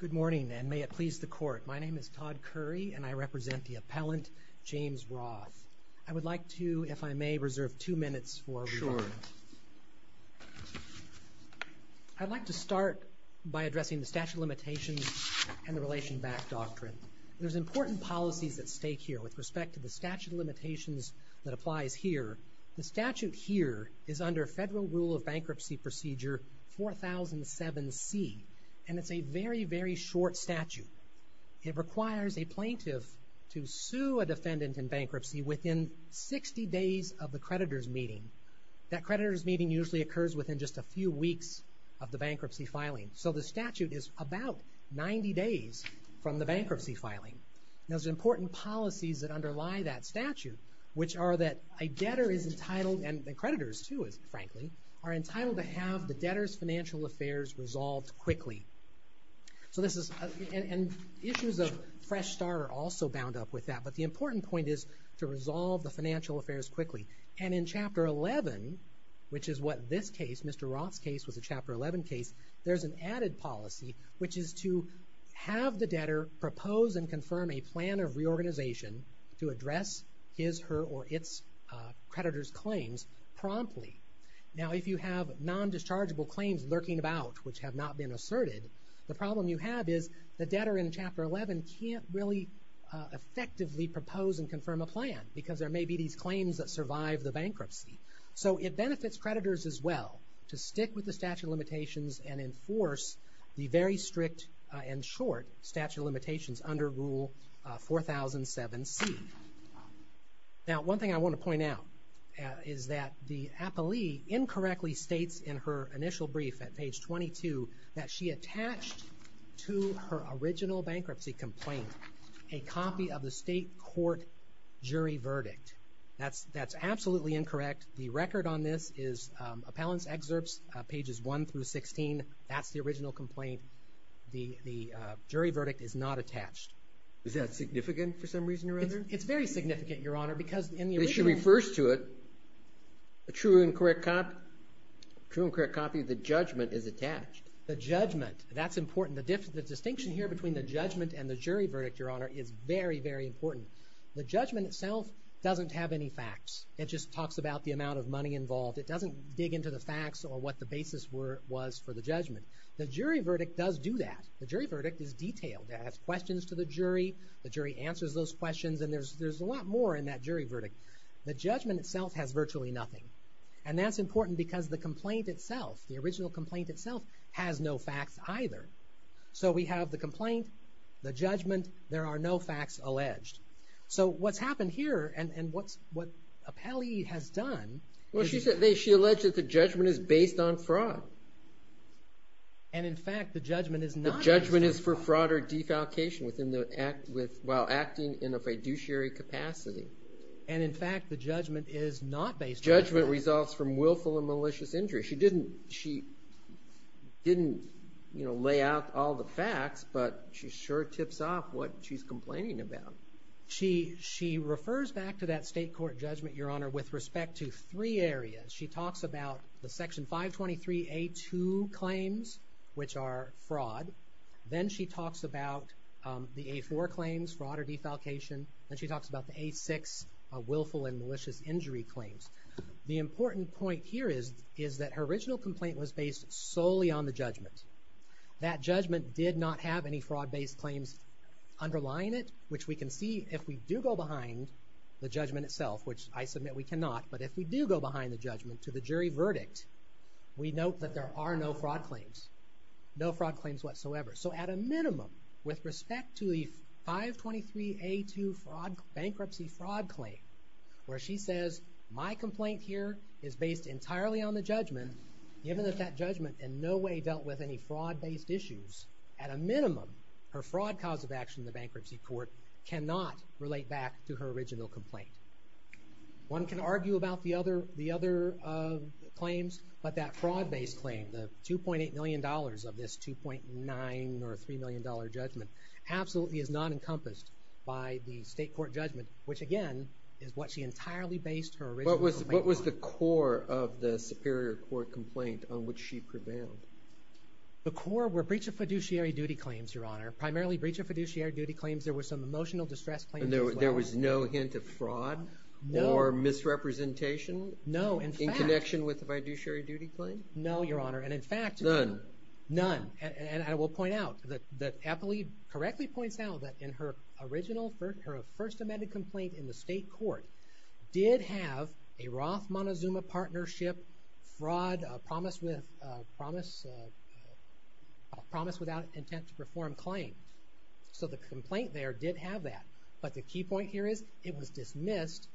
Good morning, and may it please the Court. My name is Todd Curry, and I represent the appellant, James Roth. I would like to, if I may, reserve two minutes for rebuttal. Sure. I'd like to start by addressing the statute of limitations and the relation back doctrine. There's important policies at stake here with respect to the statute of limitations that applies here. The statute here is under Federal Rule of Bankruptcy Procedure 4007C, and it's a very, very short statute. It requires a plaintiff to sue a defendant in bankruptcy within 60 days of the creditor's meeting. That creditor's meeting usually occurs within just a few weeks of the bankruptcy filing. So the statute is about 90 days from the bankruptcy filing. Now, there's important policies that underlie that statute, which are that a debtor is entitled, and creditors too, frankly, are entitled to have the debtor's financial affairs resolved quickly. And issues of Fresh Start are also bound up with that, but the important point is to resolve the financial affairs quickly. And in Chapter 11, which is what this case, Mr. Roth's case, was a Chapter 11 case, there's an added policy, which is to have the debtor propose and confirm a plan of reorganization to address his, her, or its creditor's claims promptly. Now, if you have non-dischargeable claims lurking about which have not been asserted, the problem you have is the debtor in Chapter 11 can't really effectively propose and confirm a plan because there may be these claims that survive the bankruptcy. So it benefits creditors as well to stick with the statute of limitations and enforce the very strict and short statute of limitations under Rule 4007C. Now, one thing I want to point out is that the appellee incorrectly states in her initial brief at page 22 that she attached to her original bankruptcy complaint a copy of the state court jury verdict. That's absolutely incorrect. The record on this is Appellant's Excerpts, pages 1 through 16. That's the original complaint. The jury verdict is not attached. Is that significant for some reason or other? It's very significant, Your Honor, because in the original… Because she refers to it, a true and correct copy of the judgment is attached. The judgment, that's important. The distinction here between the judgment and the jury verdict, Your Honor, is very, very important. The judgment itself doesn't have any facts. It just talks about the amount of money involved. It doesn't dig into the facts or what the basis was for the judgment. The jury verdict does do that. The jury verdict is detailed. It has questions to the jury, the jury answers those questions, and there's a lot more in that jury verdict. The judgment itself has virtually nothing, and that's important because the complaint itself, the original complaint itself, has no facts either. So we have the complaint, the judgment, there are no facts alleged. So what's happened here and what Appellee has done… Well, she alleged that the judgment is based on fraud. And, in fact, the judgment is not based on fraud. The judgment is for fraud or defalcation while acting in a fiduciary capacity. And, in fact, the judgment is not based on fraud. Judgment results from willful and malicious injury. She didn't lay out all the facts, but she sure tips off what she's complaining about. She refers back to that state court judgment, Your Honor, with respect to three areas. She talks about the Section 523A2 claims, which are fraud. Then she talks about the A4 claims, fraud or defalcation. Then she talks about the A6, willful and malicious injury claims. The important point here is that her original complaint was based solely on the judgment. That judgment did not have any fraud-based claims underlying it, which we can see if we do go behind the judgment itself, which I submit we cannot, but if we do go behind the judgment to the jury verdict, we note that there are no fraud claims. No fraud claims whatsoever. So, at a minimum, with respect to the 523A2 bankruptcy fraud claim, where she says, my complaint here is based entirely on the judgment, given that that judgment in no way dealt with any fraud-based issues, at a minimum, her fraud cause of action in the bankruptcy court cannot relate back to her original complaint. One can argue about the other claims, but that fraud-based claim, the $2.8 million of this $2.9 or $3 million judgment, absolutely is not encompassed by the state court judgment, which, again, is what she entirely based her original complaint on. What was the core of the Superior Court complaint on which she prevailed? The core were breach of fiduciary duty claims, Your Honor. Primarily, breach of fiduciary duty claims. There were some emotional distress claims as well. There was no hint of fraud or misrepresentation in connection with the fiduciary duty claim? No, Your Honor, and in fact, none. None, and I will point out that Eppley correctly points out that in her original, her first amended complaint in the state court, did have a Roth Montezuma partnership fraud promise without intent to perform claim. So the complaint there did have that, but the key point here is, it was dismissed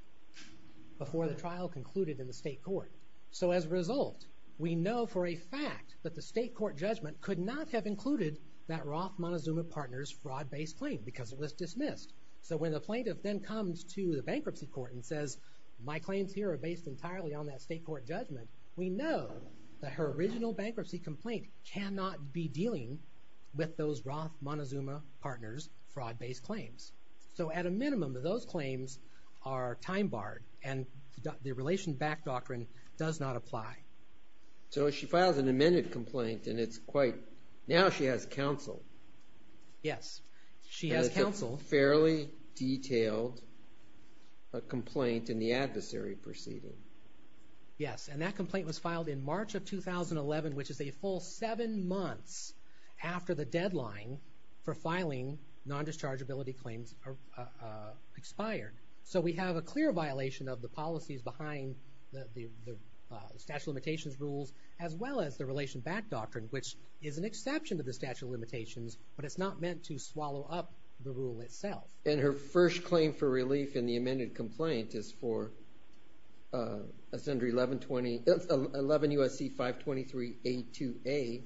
before the trial concluded in the state court. So as a result, we know for a fact that the state court judgment could not have included that Roth Montezuma partner's fraud-based claim because it was dismissed. So when the plaintiff then comes to the bankruptcy court and says, my claims here are based entirely on that state court judgment, we know that her original bankruptcy complaint cannot be dealing with those Roth Montezuma partners' fraud-based claims. So at a minimum, those claims are time-barred, and the relation-backed doctrine does not apply. So she files an amended complaint, and it's quite, now she has counsel. Yes, she has counsel. And it's a fairly detailed complaint in the adversary proceeding. Yes, and that complaint was filed in March of 2011, which is a full seven months after the deadline for filing non-dischargeability claims expired. So we have a clear violation of the policies behind the statute of limitations rules, as well as the relation-backed doctrine, which is an exception to the statute of limitations, but it's not meant to swallow up the rule itself. And her first claim for relief in the amended complaint is for 11 U.S.C. 523.82a,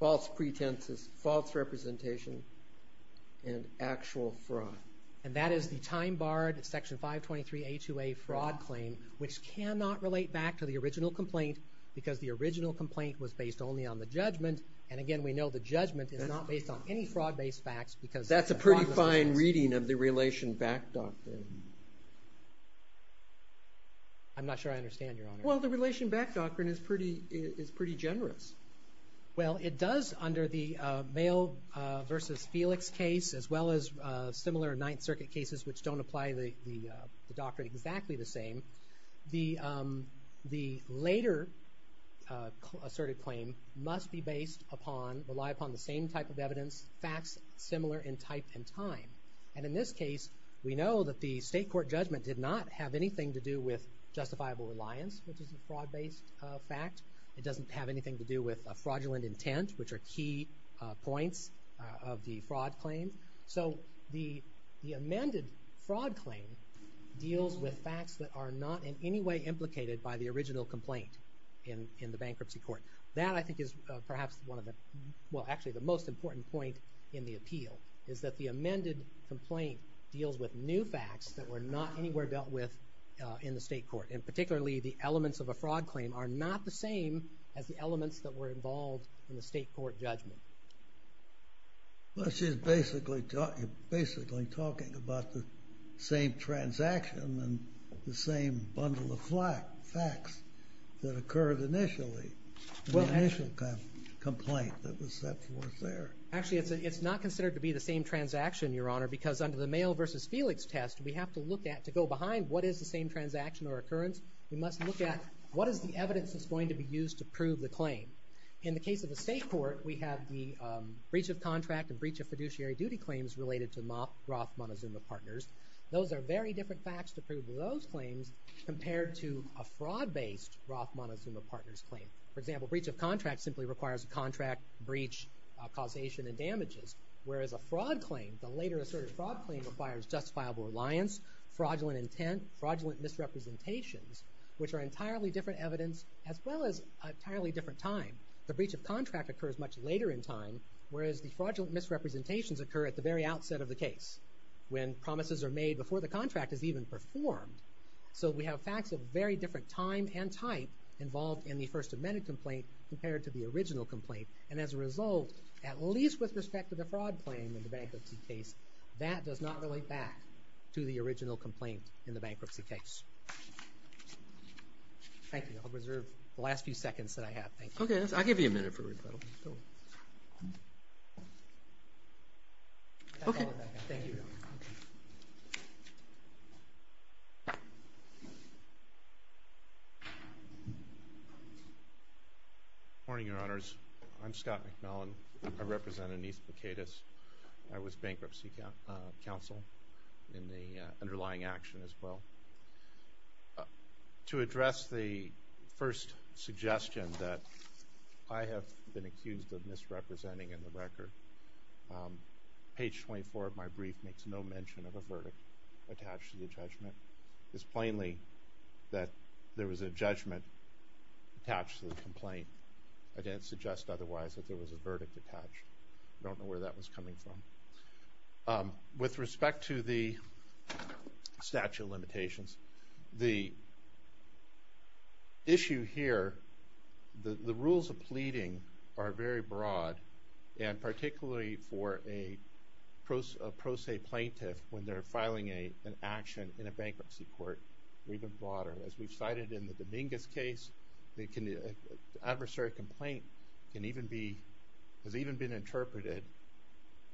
false pretenses, false representation, and actual fraud. And that is the time-barred Section 523.82a fraud claim, which cannot relate back to the original complaint because the original complaint was based only on the judgment. And again, we know the judgment is not based on any fraud-based facts. That's a pretty fine reading of the relation-backed doctrine. I'm not sure I understand, Your Honor. Well, the relation-backed doctrine is pretty generous. Well, it does, under the Vail v. Felix case, as well as similar Ninth Circuit cases, which don't apply the doctrine exactly the same, the later asserted claim must be based upon, rely upon the same type of evidence, facts similar in type and time. And in this case, we know that the state court judgment did not have anything to do with justifiable reliance, which is a fraud-based fact. It doesn't have anything to do with a fraudulent intent, which are key points of the fraud claim. So the amended fraud claim deals with facts that are not in any way implicated by the original complaint in the bankruptcy court. That, I think, is perhaps one of the, well, actually the most important point in the appeal, is that the amended complaint deals with new facts that were not anywhere dealt with in the state court. And particularly, the elements of a fraud claim are not the same as the elements that were involved in the state court judgment. Well, she's basically talking about the same transaction and the same bundle of facts that occurred initially, the initial complaint that was set forth there. Actually, it's not considered to be the same transaction, Your Honor, because under the Vail v. Felix test, we have to look at, to go behind, what is the same transaction or occurrence? We must look at what is the evidence that's going to be used to prove the claim. In the case of the state court, we have the breach of contract and breach of fiduciary duty claims related to Roth Montezuma Partners. Those are very different facts to prove those claims compared to a fraud-based Roth Montezuma Partners claim. For example, breach of contract simply requires a contract breach causation and damages, whereas a fraud claim, the later asserted fraud claim, requires justifiable reliance, fraudulent intent, fraudulent misrepresentations, which are entirely different evidence as well as entirely different time. The breach of contract occurs much later in time, whereas the fraudulent misrepresentations occur at the very outset of the case, when promises are made before the contract is even performed. So we have facts of very different time and type involved in the first amended complaint compared to the original complaint. And as a result, at least with respect to the fraud claim in the bankruptcy case, that does not relate back to the original complaint in the bankruptcy case. Thank you. I'll reserve the last few seconds that I have. Thank you. Okay. I'll give you a minute for rebuttal. Okay. Thank you. Thank you. Good morning, Your Honors. I'm Scott McMillan. I represent Aneath Bikaitis. I was bankruptcy counsel in the underlying action as well. To address the first suggestion that I have been accused of misrepresenting in the record, page 24 of my brief makes no mention of a verdict attached to the judgment. It's plainly that there was a judgment attached to the complaint. I didn't suggest otherwise that there was a verdict attached. I don't know where that was coming from. With respect to the statute of limitations, the issue here, the rules of pleading are very broad, and particularly for a pro se plaintiff when they're filing an action in a bankruptcy court, even broader. As we've cited in the Dominguez case, the adversary complaint can even be, has even been interpreted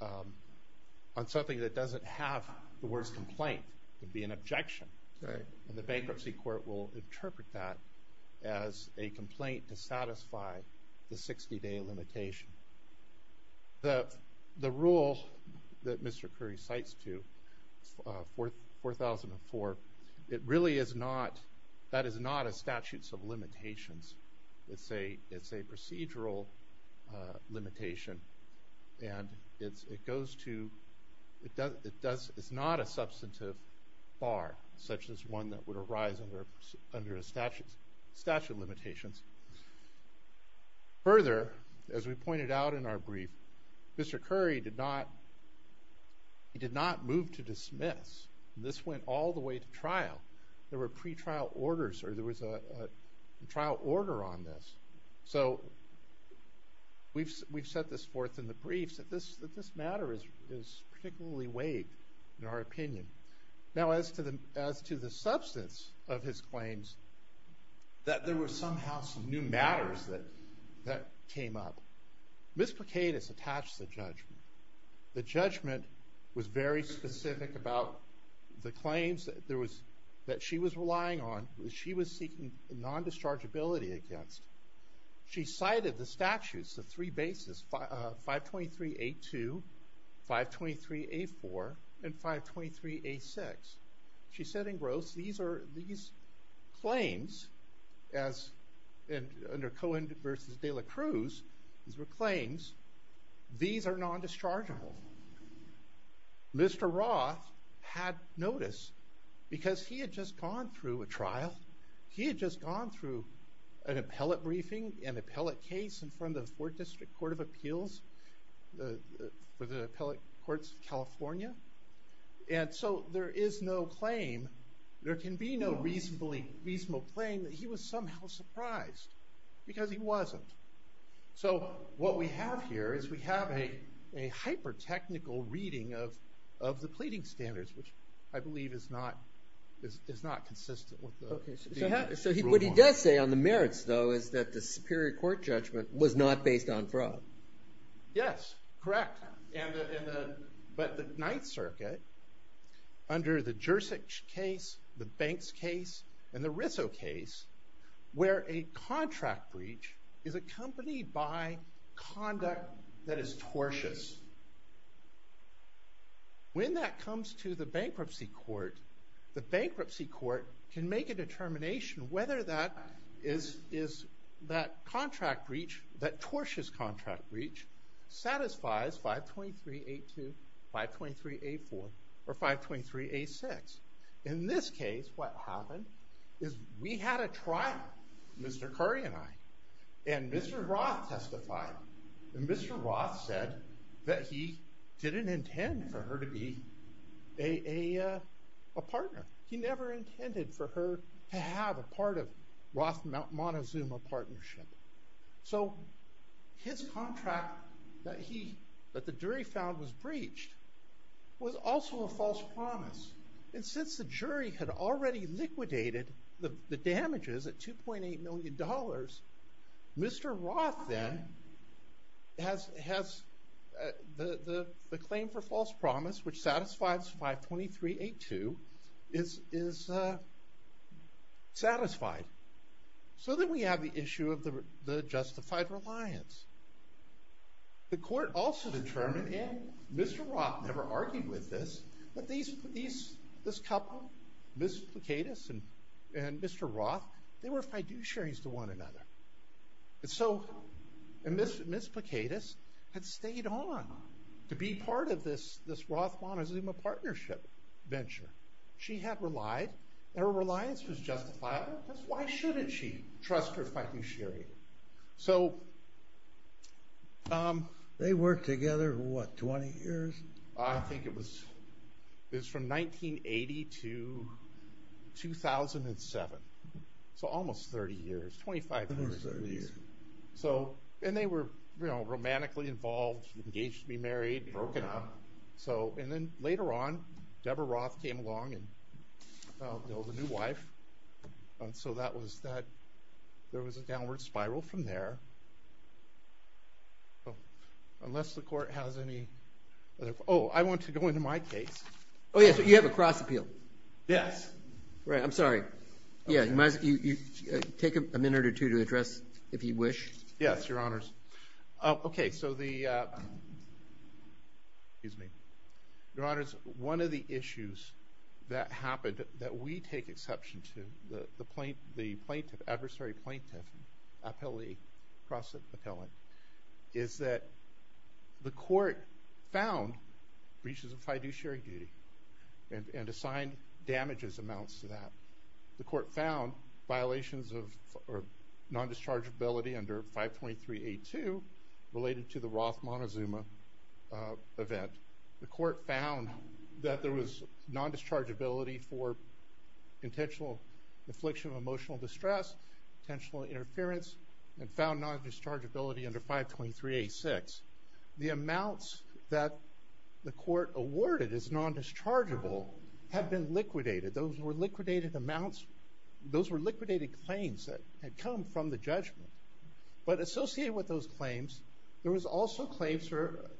on something that doesn't have the words complaint. It would be an objection. The bankruptcy court will interpret that as a complaint to satisfy the 60-day limitation. The rule that Mr. Curry cites to 4004, it really is not, that is not a statute of limitations. It's a procedural limitation, and it goes to, it's not a substantive bar, such as one that would arise under a statute of limitations. Further, as we pointed out in our brief, Mr. Curry did not move to dismiss. This went all the way to trial. There were pre-trial orders, or there was a trial order on this. So we've set this forth in the briefs that this matter is particularly weighed in our opinion. Now, as to the substance of his claims, that there were somehow some new matters that came up. Ms. Pikades attached the judgment. The judgment was very specific about the claims that there was, that she was relying on, that she was seeking non-dischargeability against. She cited the statutes, the three bases, 523A2, 523A4, and 523A6. She said in gross, these are, these claims as, under Cohen versus de la Cruz, these were claims, these are non-dischargeable. Mr. Roth had notice, because he had just gone through a trial. He had just gone through an appellate briefing, an appellate case in front of the 4th District Court of Appeals for the Appellate Courts of California. And so there is no claim, there can be no reasonable claim that he was somehow surprised, because he wasn't. So what we have here is we have a hyper-technical reading of the pleading standards, which I believe is not consistent with the rule of law. So what he does say on the merits, though, is that the Superior Court judgment was not based on fraud. Yes, correct. But the Ninth Circuit, under the Jersich case, the Banks case, and the Rissow case, where a contract breach is accompanied by conduct that is tortious. When that comes to the bankruptcy court, the bankruptcy court can make a determination whether that is, that contract breach, that tortious contract breach, satisfies 523.82, 523.84, or 523.86. In this case, what happened is we had a trial, Mr. Curry and I, and Mr. Roth testified. And Mr. Roth said that he didn't intend for her to be a partner. He never intended for her to have a part of Roth-Montezuma partnership. So his contract that the jury found was breached was also a false promise. And since the jury had already liquidated the damages at $2.8 million, Mr. Roth then has the claim for false promise, which satisfies 523.82, is satisfied. So then we have the issue of the justified reliance. The court also determined, and Mr. Roth never argued with this, that this couple, Ms. Plakaitis and Mr. Roth, they were fiduciaries to one another. And so Ms. Plakaitis had stayed on to be part of this Roth-Montezuma partnership venture. She had relied, and her reliance was justified. Why shouldn't she trust her fiduciary? So they worked together for, what, 20 years? I think it was from 1980 to 2007, so almost 30 years, 25 years at least. And they were romantically involved, engaged to be married, broken up. And then later on, Deborah Roth came along and built a new wife. And so that was that. There was a downward spiral from there. Unless the court has any other – oh, I want to go into my case. Oh, yeah, so you have a cross appeal. Yes. Right, I'm sorry. Yeah, you take a minute or two to address, if you wish. Yes, Your Honors. Okay, so the – excuse me. Your Honors, one of the issues that happened that we take exception to, the adversary plaintiff appellee cross appellant, is that the court found breaches of fiduciary duty and assigned damages amounts to that. The court found violations of non-dischargeability under 523A2 related to the Roth-Montezuma event. The court found that there was non-dischargeability for intentional infliction of emotional distress, intentional interference, and found non-dischargeability under 523A6. The amounts that the court awarded as non-dischargeable have been liquidated. Those were liquidated amounts. Those were liquidated claims that had come from the judgment. But associated with those claims, there was also claims for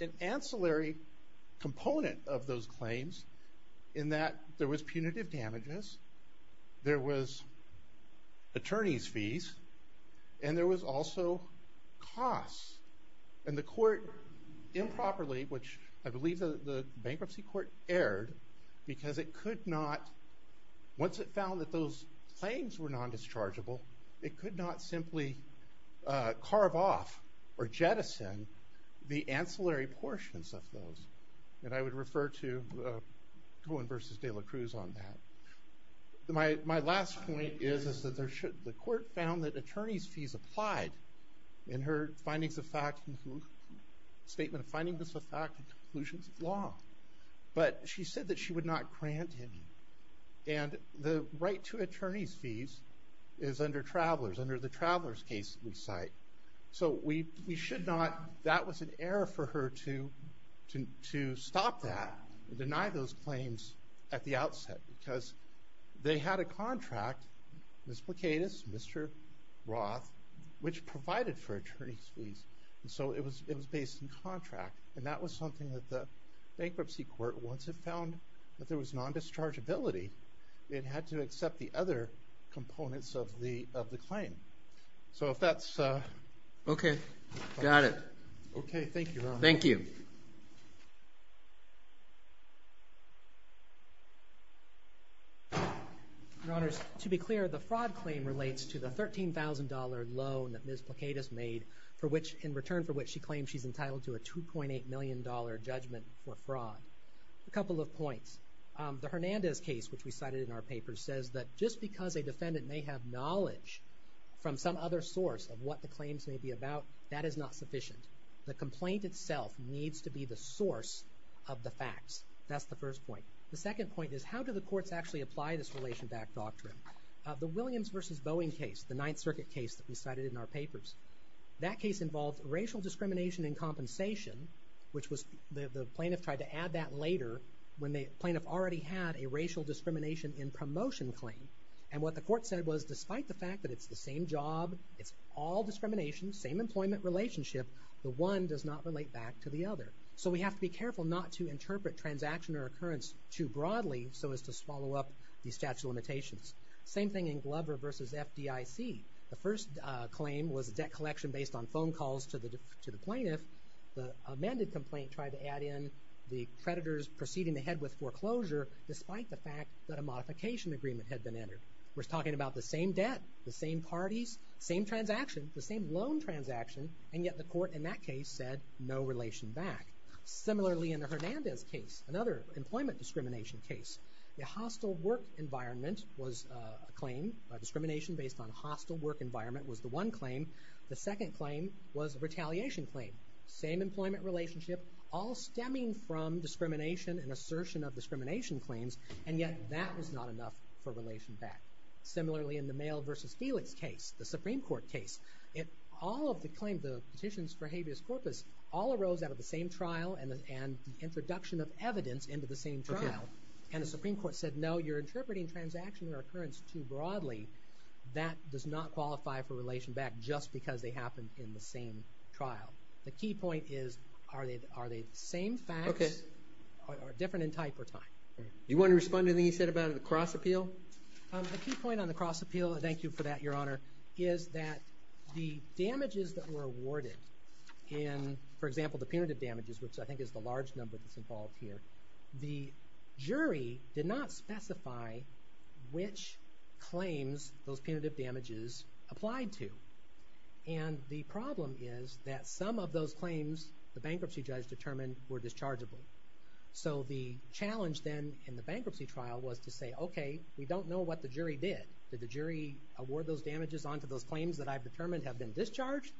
an ancillary component of those claims in that there was punitive damages, there was attorney's fees, and there was also costs. And the court improperly, which I believe the bankruptcy court erred, because it could not, once it found that those claims were non-dischargeable, it could not simply carve off or jettison the ancillary portions of those. And I would refer to Cohen v. De La Cruz on that. My last point is that the court found that attorney's fees applied in her statement of findings of fact and conclusions of law. But she said that she would not grant him. And the right to attorney's fees is under Travelers, under the Travelers case that we cite. So we should not, that was an error for her to stop that and deny those claims at the outset, because they had a contract, Ms. Placaitis, Mr. Roth, which provided for attorney's fees. So it was based in contract. And that was something that the bankruptcy court, once it found that there was non-dischargeability, it had to accept the other components of the claim. So if that's... Okay, got it. Okay, thank you, Your Honor. Thank you. Your Honors, to be clear, the fraud claim relates to the $13,000 loan that Ms. Placaitis made, in return for which she claims she's entitled to a $2.8 million judgment for fraud. A couple of points. The Hernandez case, which we cited in our papers, says that just because a defendant may have knowledge from some other source of what the claims may be about, that is not sufficient. The complaint itself needs to be the source of the facts. That's the first point. The second point is, how do the courts actually apply this relation-backed doctrine? The Williams v. Boeing case, the Ninth Circuit case that we cited in our papers, that case involved racial discrimination in compensation, which the plaintiff tried to add that later when the plaintiff already had a racial discrimination in promotion claim. And what the court said was, despite the fact that it's the same job, it's all discrimination, same employment relationship, the one does not relate back to the other. So we have to be careful not to interpret transaction or occurrence too broadly so as to swallow up these statute of limitations. Same thing in Glover v. FDIC. The first claim was a debt collection based on phone calls to the plaintiff. The amended complaint tried to add in the creditors proceeding ahead with foreclosure despite the fact that a modification agreement had been entered. We're talking about the same debt, the same parties, same transaction, the same loan transaction, and yet the court in that case said no relation back. Similarly, in the Hernandez case, another employment discrimination case, the hostile work environment was a claim, a discrimination based on hostile work environment was the one claim. The second claim was a retaliation claim. Same employment relationship, all stemming from discrimination and assertion of discrimination claims, and yet that was not enough for relation back. Similarly, in the Mail v. Felix case, the Supreme Court case, all of the claims, the petitions for habeas corpus, all arose out of the same trial and the introduction of evidence into the same trial. And the Supreme Court said, no, you're interpreting transaction or occurrence too broadly. That does not qualify for relation back just because they happened in the same trial. The key point is, are they the same facts, or different in type or time? You want to respond to anything he said about a cross appeal? A key point on the cross appeal, and thank you for that, Your Honor, is that the damages that were awarded in, for example, the punitive damages, which I think is the large number that's involved here, the jury did not specify which claims those punitive damages applied to. And the problem is that some of those claims the bankruptcy judge determined were dischargeable. So the challenge then in the bankruptcy trial was to say, okay, we don't know what the jury did. Did the jury award those damages onto those claims that I've determined have been discharged?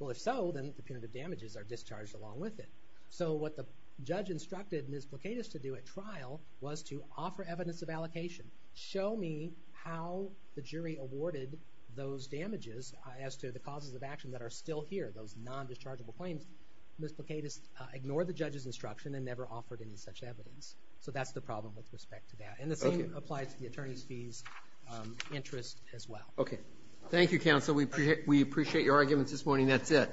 Well, if so, then the punitive damages are discharged along with it. So what the judge instructed Ms. Plakatis to do at trial was to offer evidence of allocation. Show me how the jury awarded those damages as to the causes of action that are still here, those non-dischargeable claims. Ms. Plakatis ignored the judge's instruction and never offered any such evidence. So that's the problem with respect to that. And the same applies to the attorney's fees interest as well. Thank you, counsel. We appreciate your arguments this morning. That's it.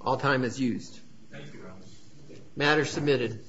All time is used. Matter submitted.